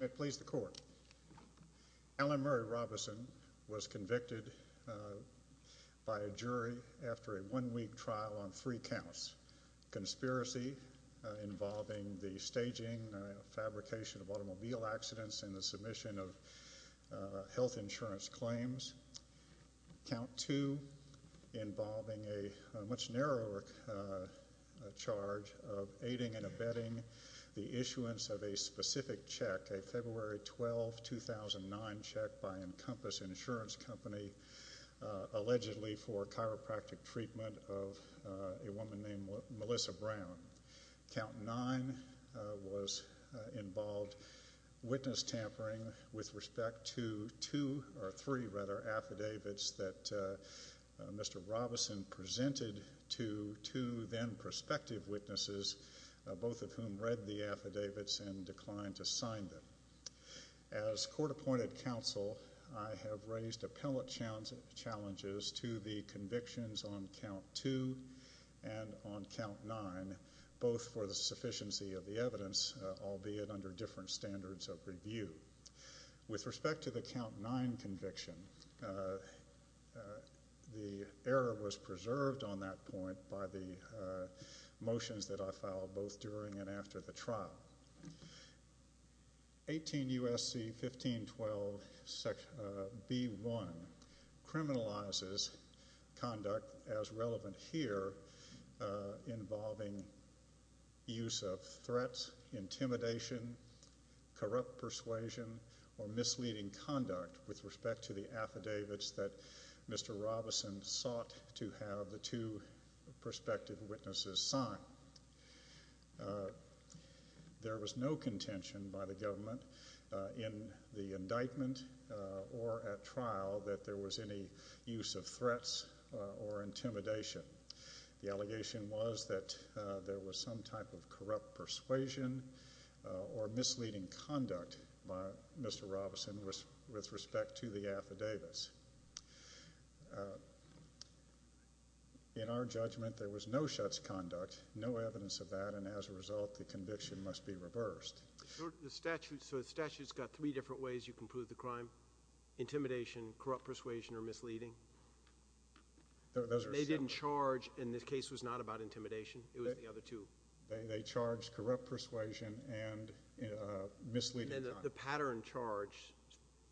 May it please the court. Alan Murray Robison was convicted by a jury after a one-week trial on three counts. Conspiracy involving the staging, fabrication of automobile accidents, and the submission of health insurance claims. Count two involving a much narrower charge of aiding and abetting the issuance of a specific check, a February 12, 2009, check by Encompass Insurance Company, allegedly for chiropractic treatment of a woman named Melissa Brown. Count nine was involved witness tampering with respect to two or three, rather, affidavits that Mr. Robison presented to two then prospective witnesses, both of whom read the affidavits and declined to sign them. As court-appointed counsel, I have raised appellate challenges to the convictions on count two and on count nine, both for the sufficiency of the evidence, albeit under different standards of review. With respect to the motions that I filed both during and after the trial, 18 U.S.C. 1512 B.1 criminalizes conduct, as relevant here, involving use of threats, intimidation, corrupt persuasion, or misleading conduct with respect to the affidavits that Mr. Robison presented to the prospective witnesses signed. There was no contention by the government in the indictment or at trial that there was any use of threats or intimidation. The allegation was that there was some type of corrupt persuasion or misleading conduct by Mr. Robison with respect to the affidavits. In our case, there was no such conduct, no evidence of that, and as a result, the conviction must be reversed. So the statute's got three different ways you can prove the crime? Intimidation, corrupt persuasion, or misleading? They didn't charge, and this case was not about intimidation. It was the other two. They charged corrupt persuasion and misleading conduct. The pattern charge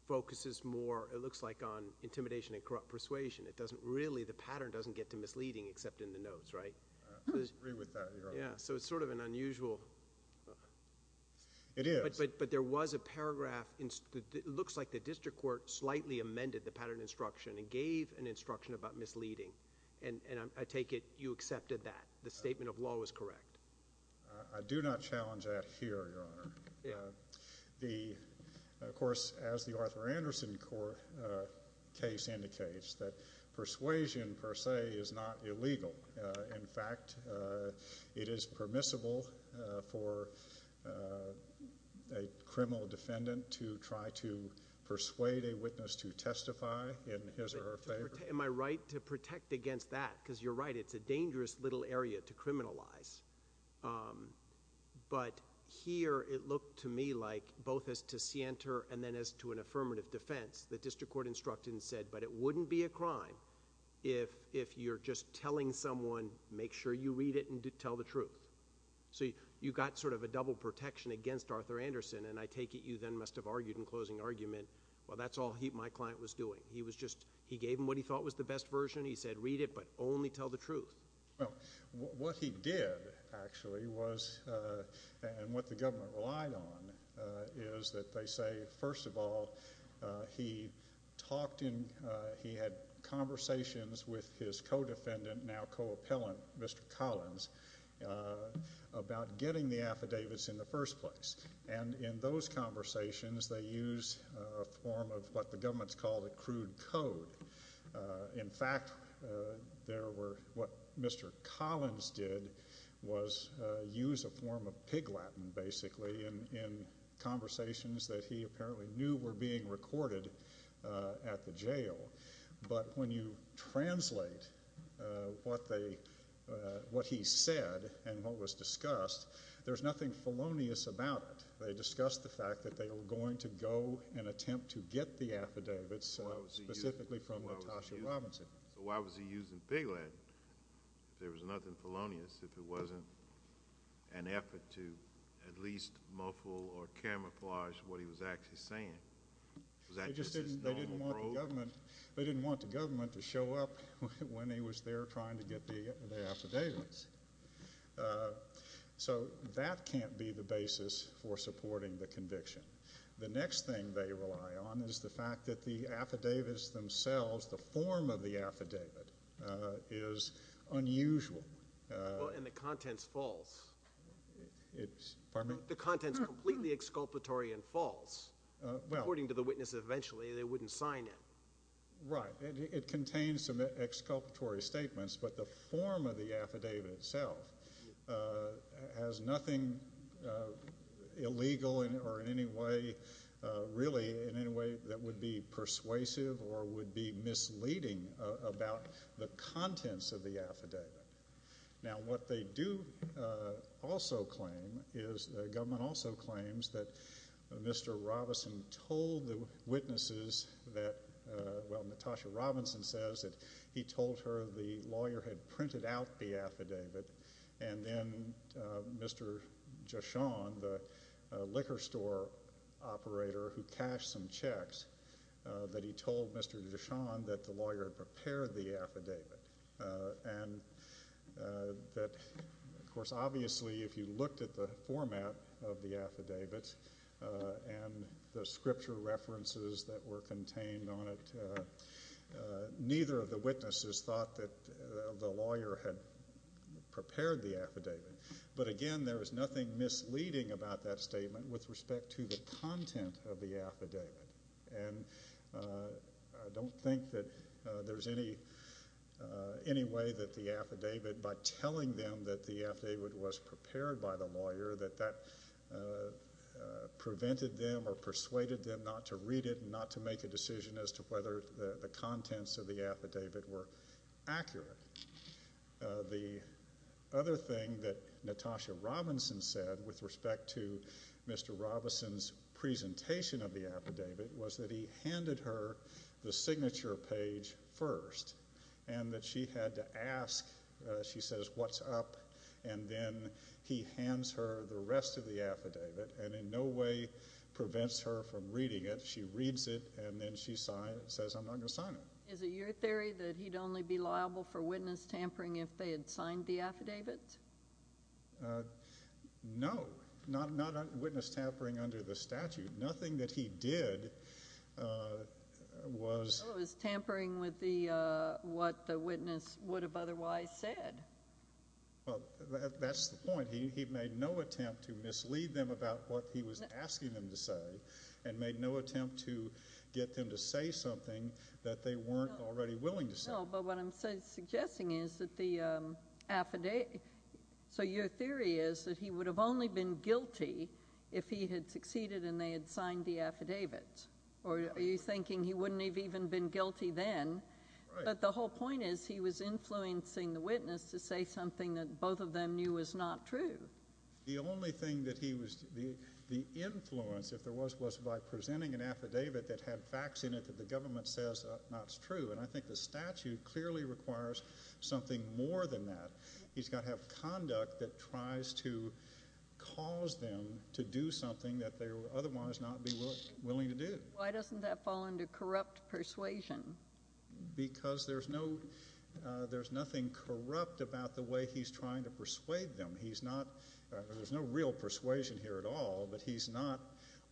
focuses more, it looks like, on intimidation and corrupt persuasion. It doesn't really, the pattern doesn't get to misleading except in the notes, right? I agree with that, Your Honor. Yeah, so it's sort of an unusual... It is. But there was a paragraph, it looks like the district court slightly amended the pattern instruction and gave an instruction about misleading, and I take it you accepted that. The statement of law was correct. I do not challenge that here, Your Honor. Of course, as the district court instructed, it is not illegal. In fact, it is permissible for a criminal defendant to try to persuade a witness to testify in his or her favor. Am I right to protect against that? Because you're right, it's a dangerous little area to criminalize. But here, it looked to me like, both as to scienter and then as to an affirmative defense, the district court instructed and if you're just telling someone, make sure you read it and tell the truth. So you got sort of a double protection against Arthur Anderson, and I take it you then must have argued in closing argument, well, that's all my client was doing. He was just, he gave him what he thought was the best version, he said read it, but only tell the truth. Well, what he did, actually, was, and what the government relied on, is that they say, first of all, he talked in, he had conversations with his co-defendant, now co-appellant, Mr. Collins, about getting the affidavits in the first place. And in those conversations, they used a form of what the government's called a crude code. In fact, there were, what Mr. Collins did was use a form of pig Latin, basically, in conversations that he apparently knew were being recorded at the jail. But when you translate what they, what he said and what was discussed, there's nothing felonious about it. They discussed the fact that they were going to go and attempt to get the affidavits, specifically from Latasha Robinson. So why was he using pig Latin if there was nothing felonious, if it wasn't an effort to at least muffle or camouflage what he was actually saying? They didn't want the government to show up when he was there trying to get the affidavits. So that can't be the basis for supporting the conviction. The next thing they rely on is the fact that the affidavits themselves, the form of the affidavit is unusual. Well, and the content's false. Pardon me? The content's completely exculpatory and false. According to the witnesses, eventually, they wouldn't sign it. Right. It contains some exculpatory statements, but the form of the affidavit itself has nothing illegal or in any way, really, in any way that would be persuasive or would be misleading about the contents of the affidavit. Now, what they do also claim is the government also claims that Mr. Robinson told the witnesses that, well, Latasha Robinson says that he told her the lawyer had printed out the affidavit, and then Mr. Jashon, the liquor store operator who cashed some checks, that he told Mr. Jashon that the lawyer had prepared the affidavit. And that, of course, obviously, if you looked at the format of the affidavit and the scripture references that were contained on it, neither of the witnesses thought that the lawyer had prepared the affidavit. But again, there is nothing misleading about that statement with respect to the content of the affidavit. And I don't think that there's any way that the affidavit, by telling them that the affidavit was prepared by the lawyer, that that prevented them or persuaded them not to read it and not to make a decision as to whether the contents of the affidavit were accurate. The other thing that Latasha Robinson said with respect to Mr. Robinson's presentation of the affidavit was that he handed her the signature page first and that she had to ask, she says, what's up? And then he hands her the rest of the affidavit and in no way prevents her from reading it. She reads it and then she says, I'm not going to sign it. Is it your theory that he'd only be liable for witness tampering if they had signed the affidavit? No, not witness tampering under the statute. Nothing that he did was tampering with what the witness would have otherwise said. Well, that's the point. He made no attempt to mislead them about what he was asking them to say and made no attempt to get them to say something that they weren't already willing to say. No, but what I'm suggesting is that the affidavit, so your theory is that he would have only been guilty if he had succeeded and they had signed the affidavit. Or are you thinking he wouldn't have even been guilty then? But the whole point is he was influencing the witness to say something that both of them knew was not true. The only thing that he was, the influence, if there was, was by presenting an affidavit that had facts in it that the government says not true. And I think the statute clearly requires something more than that. He's got to have conduct that tries to cause them to do something that they would otherwise not be willing to do. Why doesn't that fall under corrupt persuasion? Because there's no, there's nothing corrupt about the way he's trying to persuade them. He's not, there's no real persuasion here at all, but he's not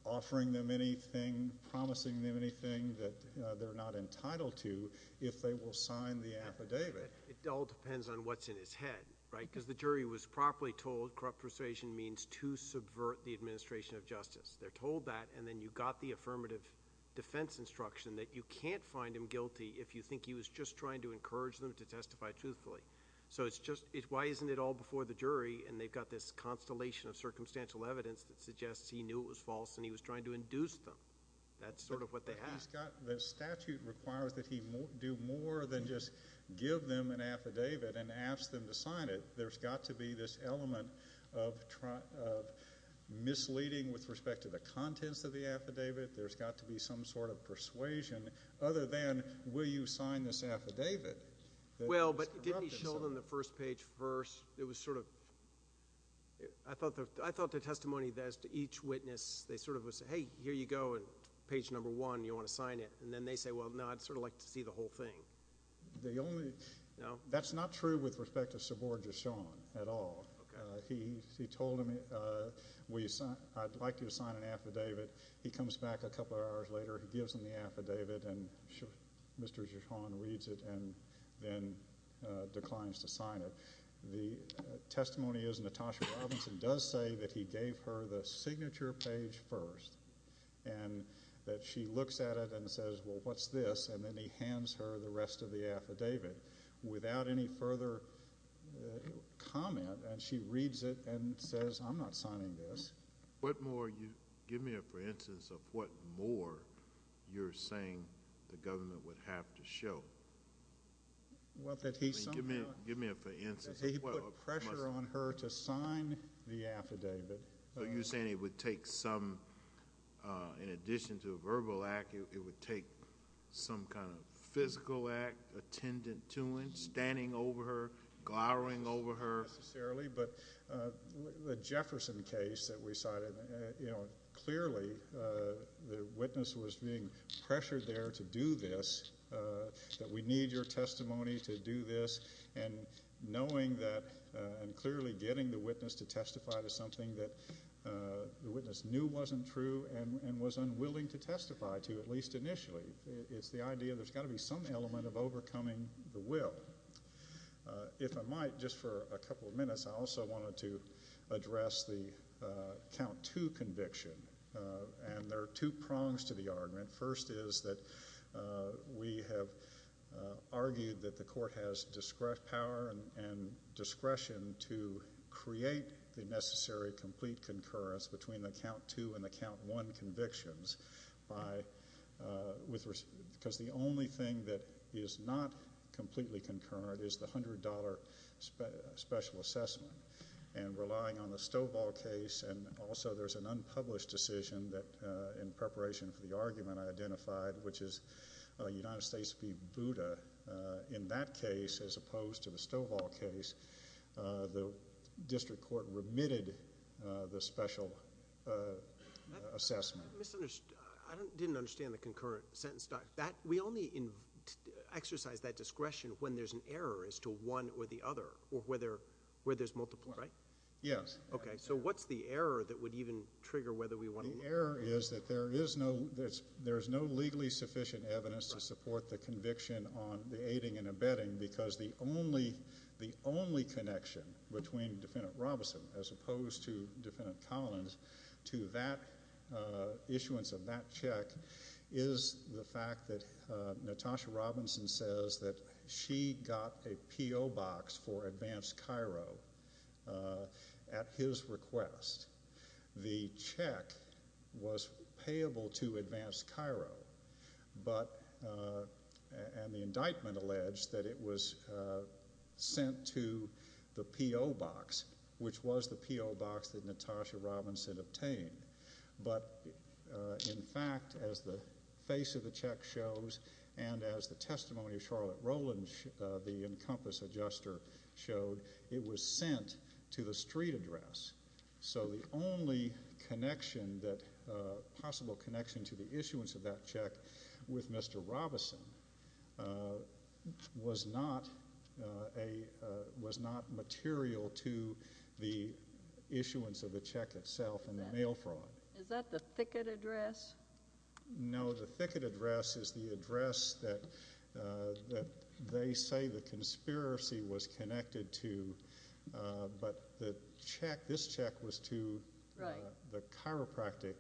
offering them anything, promising them anything that they're not entitled to if they will sign the affidavit. It all depends on what's in his head, right? Because the jury was properly told corrupt persuasion means to subvert the administration of justice. They're told that, and then you've got the affirmative defense instruction that you can't find him guilty if you think he was just trying to encourage them to testify truthfully. So it's just, why isn't it all before the jury, and they've got this constellation of circumstantial evidence that suggests he knew it was false and he was trying to induce them. That's sort of what they have. The statute requires that he do more than just give them an affidavit and ask them to sign it. There's got to be this element of misleading with respect to the contents of the affidavit. There's got to be some sort of persuasion other than will you sign this affidavit? Well, but didn't he show them the first page first? It was sort of, I thought the testimony as to each witness, they sort of would say, hey, here you go, and page number one, you want to sign it. And then they say, well, no, I'd sort of like to see the whole thing. The only, that's not true with respect to subordination at all. He told them, I'd like you to sign an affidavit. He comes back a couple of hours later. He gives them the affidavit, and Mr. Gichon reads it and then declines to sign it. The testimony is Natasha Robinson does say that he gave her the signature page first and that she looks at it and says, well, what's this? And then he hands her the rest of the affidavit without any further comment. And she reads it and says, I'm not signing this. Give me a for instance of what more you're saying the government would have to show. Give me a for instance. He put pressure on her to sign the affidavit. So you're saying it would take some, in addition to a verbal act, it would take some kind of physical act, attendant to it, standing over her, glowering over her. Not necessarily, but the Jefferson case that we cited, clearly the witness was being pressured there to do this, that we need your testimony to do this, and knowing that and clearly getting the witness to testify to something that the witness knew wasn't true and was unwilling to testify to, at least initially. It's the idea there's got to be some element of overcoming the will. If I might, just for a couple of minutes, I also wanted to address the count two conviction. And there are two prongs to the argument. First is that we have argued that the court has power and discretion to create the necessary complete concurrence between the count two and the count one convictions because the only thing that is not completely concurrent is the $100 special assessment. And relying on the Stovall case and also there's an unpublished decision that, in preparation for the argument I identified, which is United States v. Buda, in that case, as opposed to the Stovall case, the district court remitted the special assessment. I didn't understand the concurrent sentence. We only exercise that discretion when there's an error as to one or the other or where there's multiple, right? Yes. Okay. So what's the error that would even trigger whether we want to— The error is that there is no legally sufficient evidence to support the conviction on the aiding and abetting because the only connection between Defendant Robinson, as opposed to Defendant Collins, to that issuance of that check is the fact that Natasha Robinson says that she got a P.O. box for advanced Cairo at his request. The check was payable to advanced Cairo, and the indictment alleged that it was sent to the P.O. box, which was the P.O. box that Natasha Robinson obtained. But, in fact, as the face of the check shows and as the testimony of Charlotte Rowland, the Encompass adjuster, showed, it was sent to the street address. So the only connection that—possible connection to the issuance of that check with Mr. Robinson was not material to the issuance of the check itself and the mail fraud. Is that the thicket address? No, the thicket address is the address that they say the conspiracy was connected to, but this check was to the chiropractic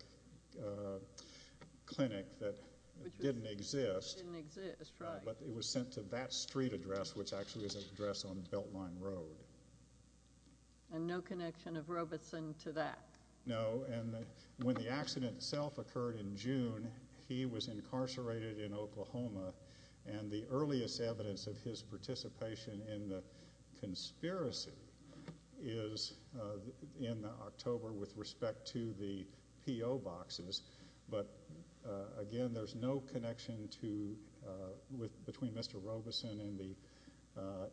clinic that didn't exist. Didn't exist, right. But it was sent to that street address, which actually is an address on Beltline Road. And no connection of Robinson to that? No, and when the accident itself occurred in June, he was incarcerated in Oklahoma, and the earliest evidence of his participation in the conspiracy is in October with respect to the P.O. boxes. But, again, there's no connection between Mr. Robinson and the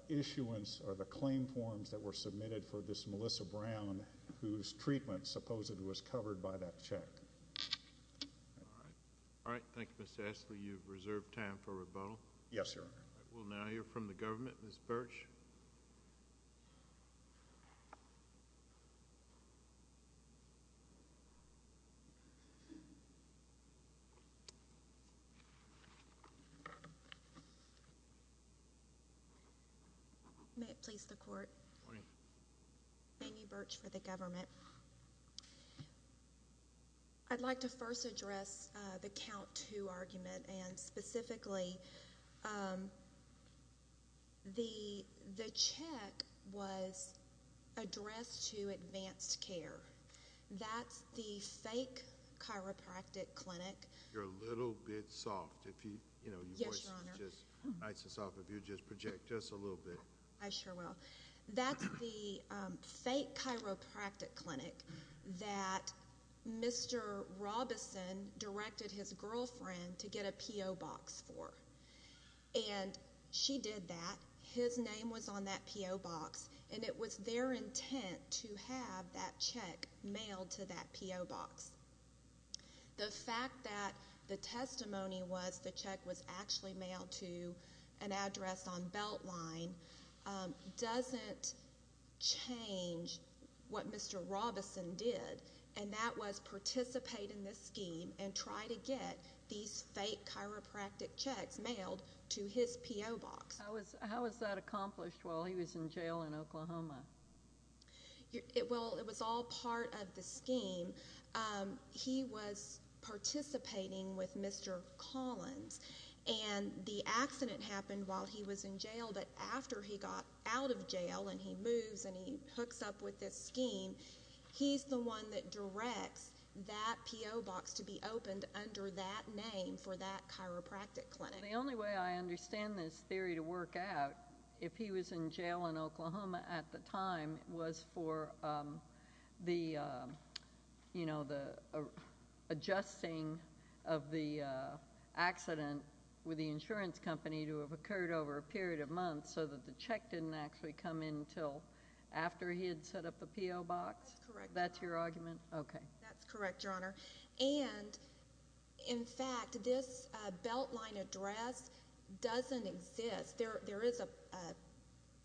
issuance or the claim forms that were submitted for this Melissa Brown, whose treatment supposedly was covered by that check. All right. Thank you, Mr. Ashley. You have reserved time for rebuttal. Yes, sir. We'll now hear from the government. Ms. Birch. May it please the Court. Good morning. Amy Birch for the government. I'd like to first address the count two argument, and specifically the check was addressed to advanced care. That's the fake chiropractic clinic. You're a little bit soft. Yes, Your Honor. Your voice is just nice and soft. If you would just project just a little bit. I sure will. That's the fake chiropractic clinic that Mr. Robinson directed his girlfriend to get a P.O. box for. And she did that. His name was on that P.O. box, and it was their intent to have that check mailed to that P.O. box. The fact that the testimony was the check was actually mailed to an address on Beltline doesn't change what Mr. Robinson did, and that was participate in this scheme and try to get these fake chiropractic checks mailed to his P.O. box. How was that accomplished while he was in jail in Oklahoma? Well, it was all part of the scheme. He was participating with Mr. Collins, and the accident happened while he was in jail, but after he got out of jail and he moves and he hooks up with this scheme, he's the one that directs that P.O. box to be opened under that name for that chiropractic clinic. The only way I understand this theory to work out, if he was in jail in Oklahoma at the time, was for the adjusting of the accident with the insurance company to have occurred over a period of months so that the check didn't actually come in until after he had set up the P.O. box? That's correct. That's your argument? Okay. That's correct, Your Honor. And, in fact, this Beltline address doesn't exist. There is a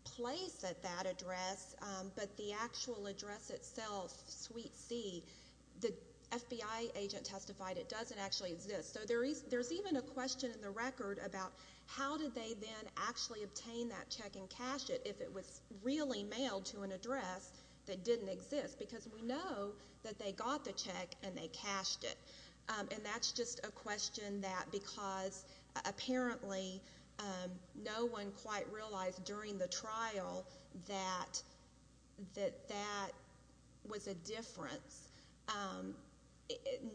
place at that address, but the actual address itself, Suite C, the FBI agent testified it doesn't actually exist. So there's even a question in the record about how did they then actually obtain that check and cash it if it was really mailed to an address that didn't exist? Because we know that they got the check and they cashed it, and that's just a question that, because apparently no one quite realized during the trial that that was a difference.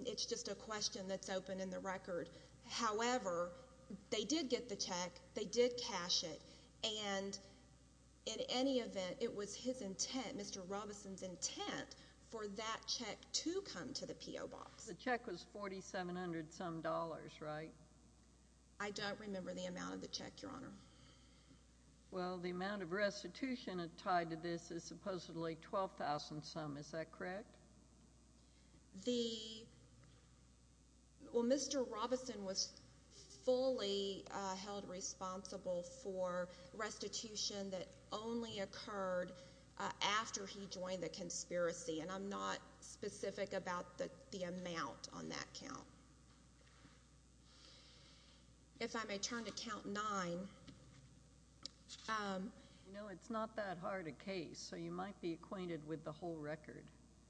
It's just a question that's open in the record. However, they did get the check, they did cash it, and in any event, it was his intent, Mr. Robison's intent, for that check to come to the P.O. box. The check was $4,700-some, right? I don't remember the amount of the check, Your Honor. Well, the amount of restitution tied to this is supposedly $12,000-some. Is that correct? Well, Mr. Robison was fully held responsible for restitution that only occurred after he joined the conspiracy, and I'm not specific about the amount on that count. If I may turn to Count 9. You know, it's not that hard a case, so you might be acquainted with the whole record.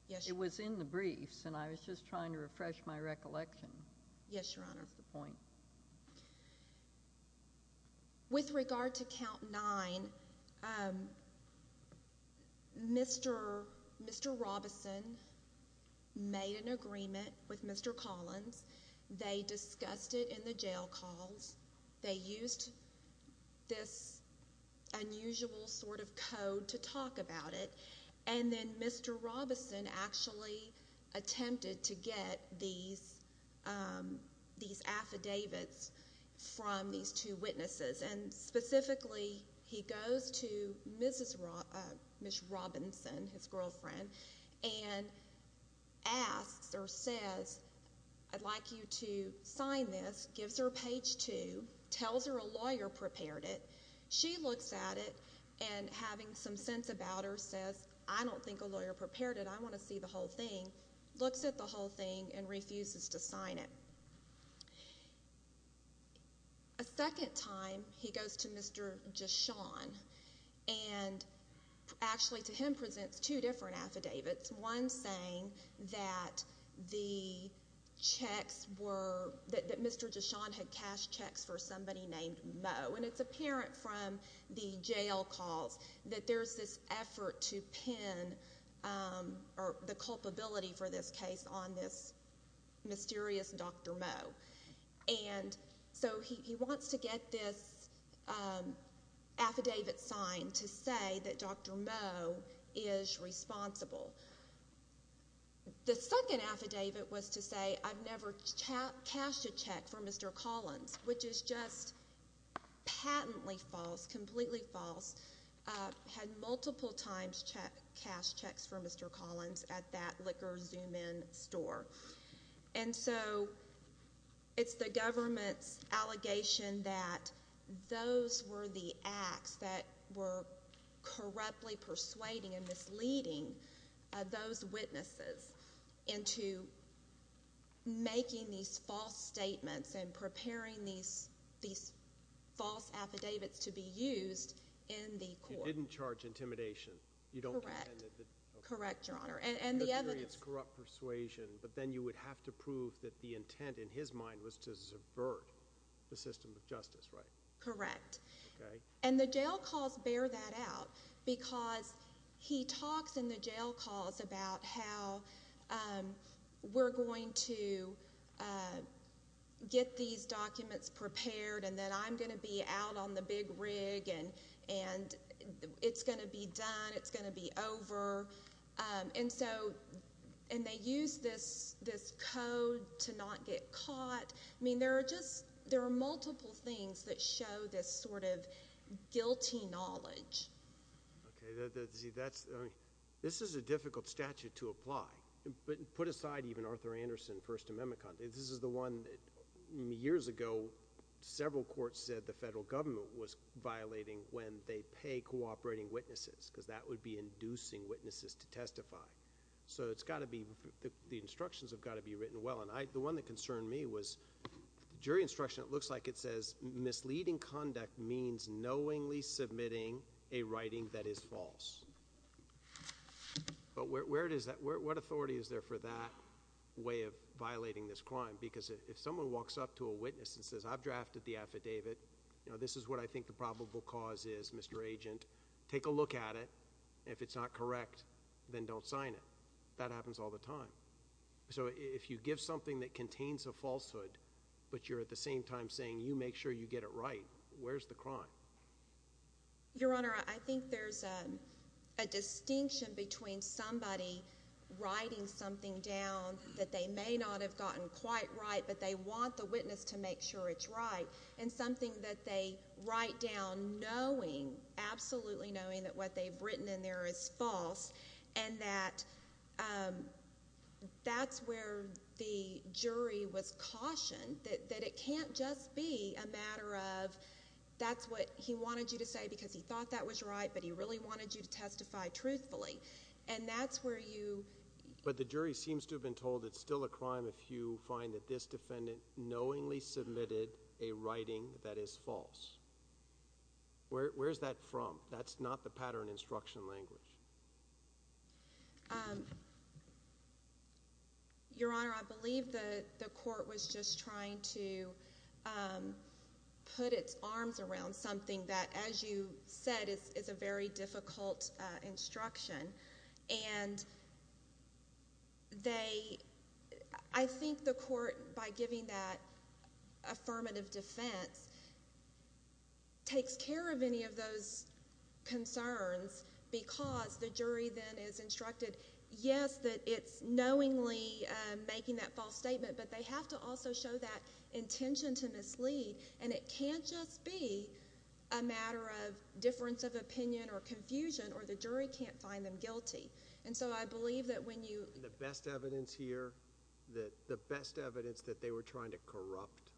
Yes, Your Honor. It was in the briefs, and I was just trying to refresh my recollection. Yes, Your Honor. That's the point. With regard to Count 9, Mr. Robison made an agreement with Mr. Collins. They discussed it in the jail calls. They used this unusual sort of code to talk about it, and then Mr. Robison actually attempted to get these affidavits from these two witnesses, and specifically he goes to Ms. Robinson, his girlfriend, and asks or says, I'd like you to sign this, gives her page 2, tells her a lawyer prepared it. She looks at it and, having some sense about her, says, I don't think a lawyer prepared it. I want to see the whole thing. Looks at the whole thing and refuses to sign it. A second time he goes to Mr. Deshawn, and actually to him presents two different affidavits, one saying that the checks were that Mr. Deshawn had cashed checks for somebody named Moe, and it's apparent from the jail calls that there's this effort to pin the culpability for this case on this mysterious Dr. Moe. And so he wants to get this affidavit signed to say that Dr. Moe is responsible. The second affidavit was to say I've never cashed a check for Mr. Collins, which is just patently false, completely false, had multiple times cashed checks for Mr. Collins at that liquor zoom-in store. And so it's the government's allegation that those were the acts that were corruptly persuading and misleading those witnesses into making these false statements and preparing these false affidavits to be used in the court. You didn't charge intimidation. Correct. Correct, Your Honor. You experienced corrupt persuasion, but then you would have to prove that the intent in his mind was to subvert the system of justice, right? Correct. And the jail calls bear that out because he talks in the jail calls about how we're going to get these documents prepared and that I'm going to be out on the big rig and it's going to be done, it's going to be over. And so they use this code to not get caught. I mean, there are multiple things that show this sort of guilty knowledge. Okay. See, this is a difficult statute to apply. But put aside even Arthur Anderson First Amendment, this is the one that years ago, several courts said the federal government was violating when they pay cooperating witnesses because that would be inducing witnesses to testify. So it's got to be the instructions have got to be written well. And the one that concerned me was the jury instruction. It looks like it says misleading conduct means knowingly submitting a writing that is false. But where does that what authority is there for that way of violating this crime? Because if someone walks up to a witness and says I've drafted the affidavit, this is what I think the probable cause is, Mr. Agent, take a look at it. If it's not correct, then don't sign it. That happens all the time. So if you give something that contains a falsehood, but you're at the same time saying you make sure you get it right, where's the crime? Your Honor, I think there's a distinction between somebody writing something down that they may not have gotten quite right, but they want the witness to make sure it's right and something that they write down knowing, absolutely knowing, that what they've written in there is false and that that's where the jury was cautioned that it can't just be a matter of that's what he wanted you to say because he thought that was right, but he really wanted you to testify truthfully. And that's where you ---- But the jury seems to have been told it's still a crime if you find that this defendant knowingly submitted a writing that is false. Where's that from? That's not the pattern instruction language. Your Honor, I believe the court was just trying to put its arms around something that, as you said, is a very difficult instruction. And they ---- I think the court, by giving that affirmative defense, takes care of any of those concerns because the jury then is instructed, yes, that it's knowingly making that false statement, but they have to also show that intention to mislead and it can't just be a matter of difference of opinion or confusion or the jury can't find them guilty. And so I believe that when you ---- The best evidence here, the best evidence that they were trying to corrupt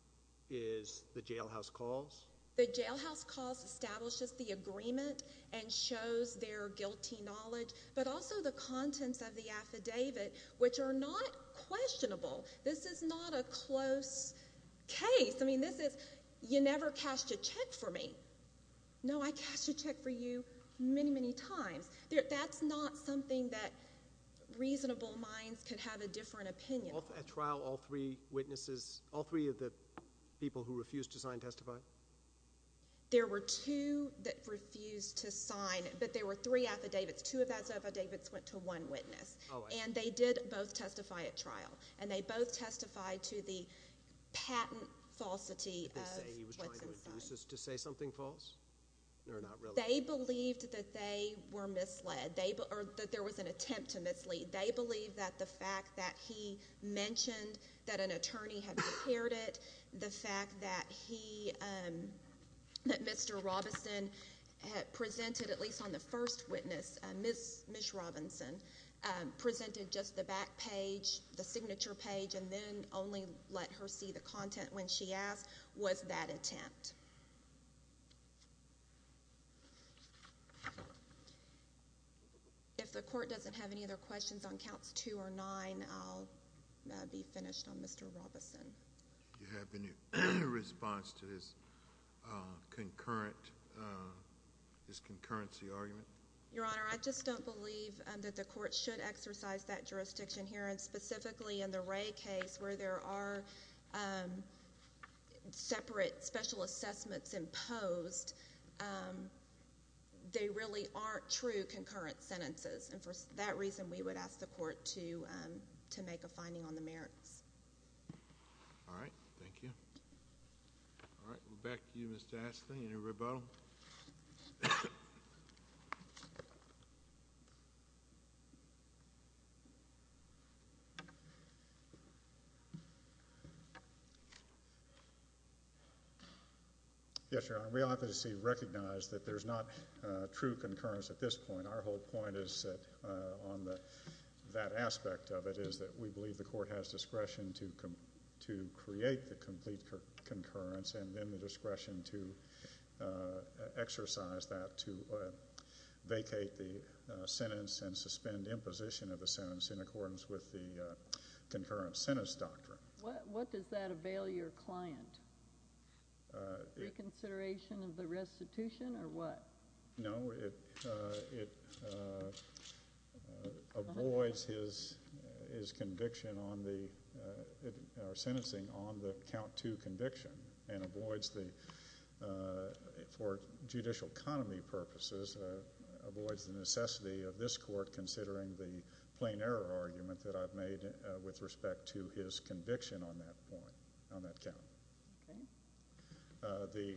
is the jailhouse calls? The jailhouse calls establishes the agreement and shows their guilty knowledge, but also the contents of the affidavit, which are not questionable. This is not a close case. I mean, this is you never cashed a check for me. No, I cashed a check for you many, many times. That's not something that reasonable minds could have a different opinion. At trial, all three witnesses, all three of the people who refused to sign testified? There were two that refused to sign, but there were three affidavits. Two of those affidavits went to one witness, and they did both testify at trial, and they both testified to the patent falsity of what's inside. Were the two witnesses to say something false or not really? They believed that they were misled or that there was an attempt to mislead. They believed that the fact that he mentioned that an attorney had prepared it, the fact that he, that Mr. Robinson had presented, at least on the first witness, Ms. Robinson presented just the back page, the signature page, and then only let her see the content when she asked was that attempt. If the court doesn't have any other questions on counts 2 or 9, I'll be finished on Mr. Robinson. Do you have any response to his concurrency argument? Your Honor, I just don't believe that the court should exercise that jurisdiction here, and specifically in the Wray case where there are separate special assessments imposed, they really aren't true concurrent sentences, and for that reason we would ask the court to make a finding on the merits. All right. Thank you. All right. We'll back to you, Mr. Astley. Any rebuttal? Yes, Your Honor. We obviously recognize that there's not true concurrence at this point. Our whole point is that on that aspect of it is that we believe the court has discretion to create the complete concurrence and then the discretion to exercise that to vacate the sentence and suspend imposition of the sentence in accordance with the concurrent sentence doctrine. What does that avail your client? Reconsideration of the restitution or what? No. It avoids his conviction on the – or sentencing on the count 2 conviction and avoids the – for judicial economy purposes, avoids the necessity of this court considering the plain error argument that I've made with respect to his conviction on that point, on that count. Okay.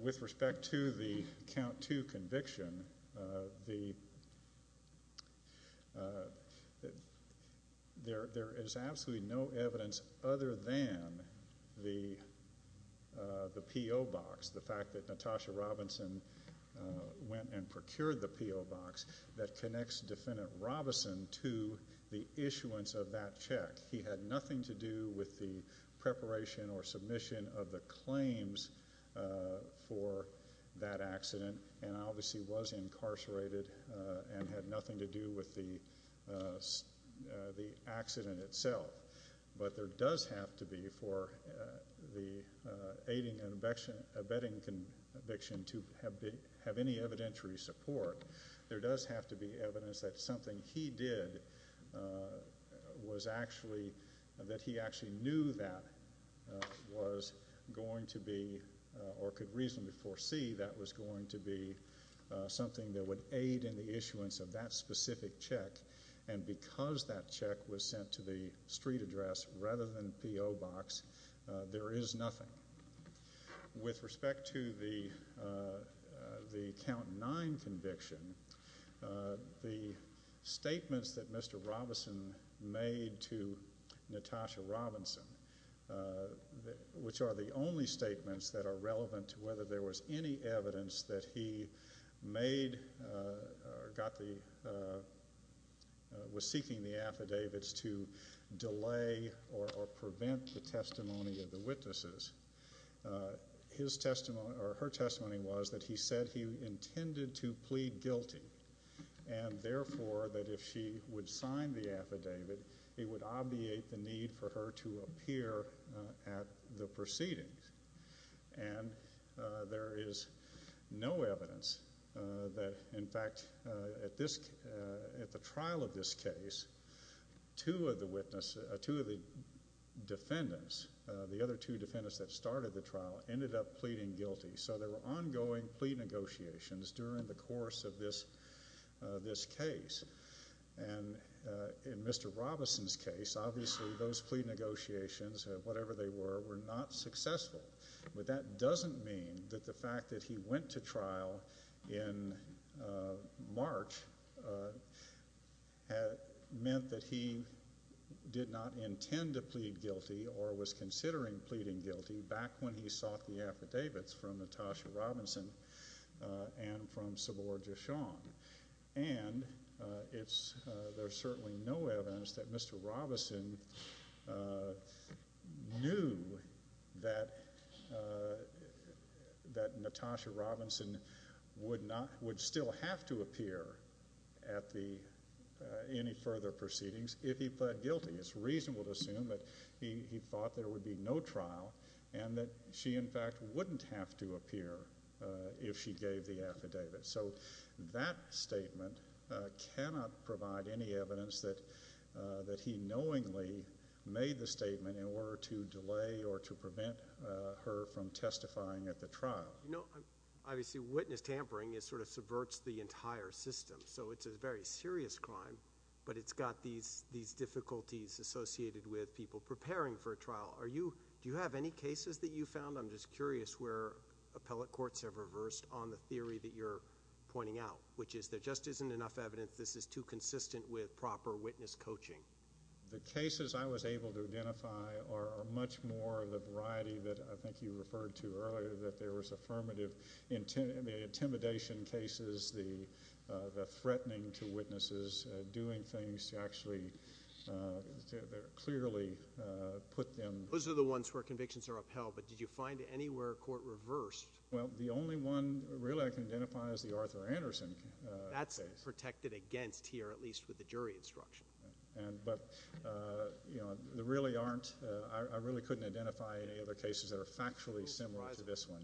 With respect to the count 2 conviction, there is absolutely no evidence other than the P.O. box, the fact that Natasha Robinson went and procured the P.O. box that connects Defendant Robison to the issuance of that check. He had nothing to do with the preparation or submission of the claims for that accident and obviously was incarcerated and had nothing to do with the accident itself. But there does have to be for the aiding and abetting conviction to have any evidentiary support. There does have to be evidence that something he did was actually – that he actually knew that was going to be or could reasonably foresee that was going to be something that would aid in the issuance of that specific check. And because that check was sent to the street address rather than the P.O. box, there is nothing. With respect to the count 9 conviction, the statements that Mr. Robison made to Natasha Robinson, which are the only statements that are relevant to whether there was any evidence that he made or was seeking the affidavits to delay or prevent the testimony of the witnesses, her testimony was that he said he intended to plead guilty and therefore that if she would sign the affidavit, it would obviate the need for her to appear at the proceedings. And there is no evidence that, in fact, at the trial of this case, two of the defendants, the other two defendants that started the trial, ended up pleading guilty. So there were ongoing plea negotiations during the course of this case. And in Mr. Robison's case, obviously those plea negotiations, whatever they were, were not successful. But that doesn't mean that the fact that he went to trial in March meant that he did not intend to plead guilty or was considering pleading guilty back when he sought the affidavits from Natasha Robinson and from Saboor Jashan. And there's certainly no evidence that Mr. Robison knew that Natasha Robinson would still have to appear at any further proceedings if he pled guilty. It's reasonable to assume that he thought there would be no trial and that she, in fact, wouldn't have to appear if she gave the affidavit. So that statement cannot provide any evidence that he knowingly made the statement in order to delay or to prevent her from testifying at the trial. You know, obviously witness tampering sort of subverts the entire system. So it's a very serious crime, but it's got these difficulties associated with people preparing for a trial. Do you have any cases that you found? I'm just curious where appellate courts have reversed on the theory that you're pointing out, which is there just isn't enough evidence. This is too consistent with proper witness coaching. The cases I was able to identify are much more the variety that I think you referred to earlier, that there was affirmative intimidation cases, the threatening to witnesses, doing things to actually clearly put them. Those are the ones where convictions are upheld, but did you find anywhere a court reversed? Well, the only one really I can identify is the Arthur Anderson case. That's protected against here, at least with the jury instruction. But, you know, there really aren't. I really couldn't identify any other cases that are factually similar to this one.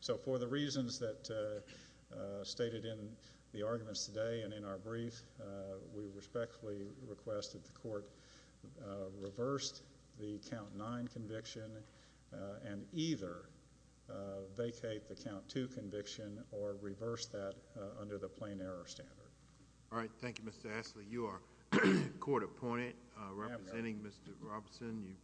So for the reasons that are stated in the arguments today and in our brief, we respectfully request that the court reverse the count nine conviction and either vacate the count two conviction or reverse that under the plain error standard. All right. Thank you, Mr. Ashley. You are court appointed, representing Mr. Robson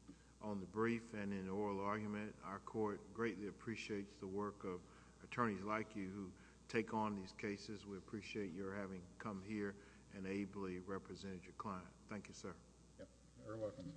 on the brief and in oral argument. Our court greatly appreciates the work of attorneys like you who take on these cases. We appreciate your having come here and ably represented your client. Thank you, sir. You're welcome.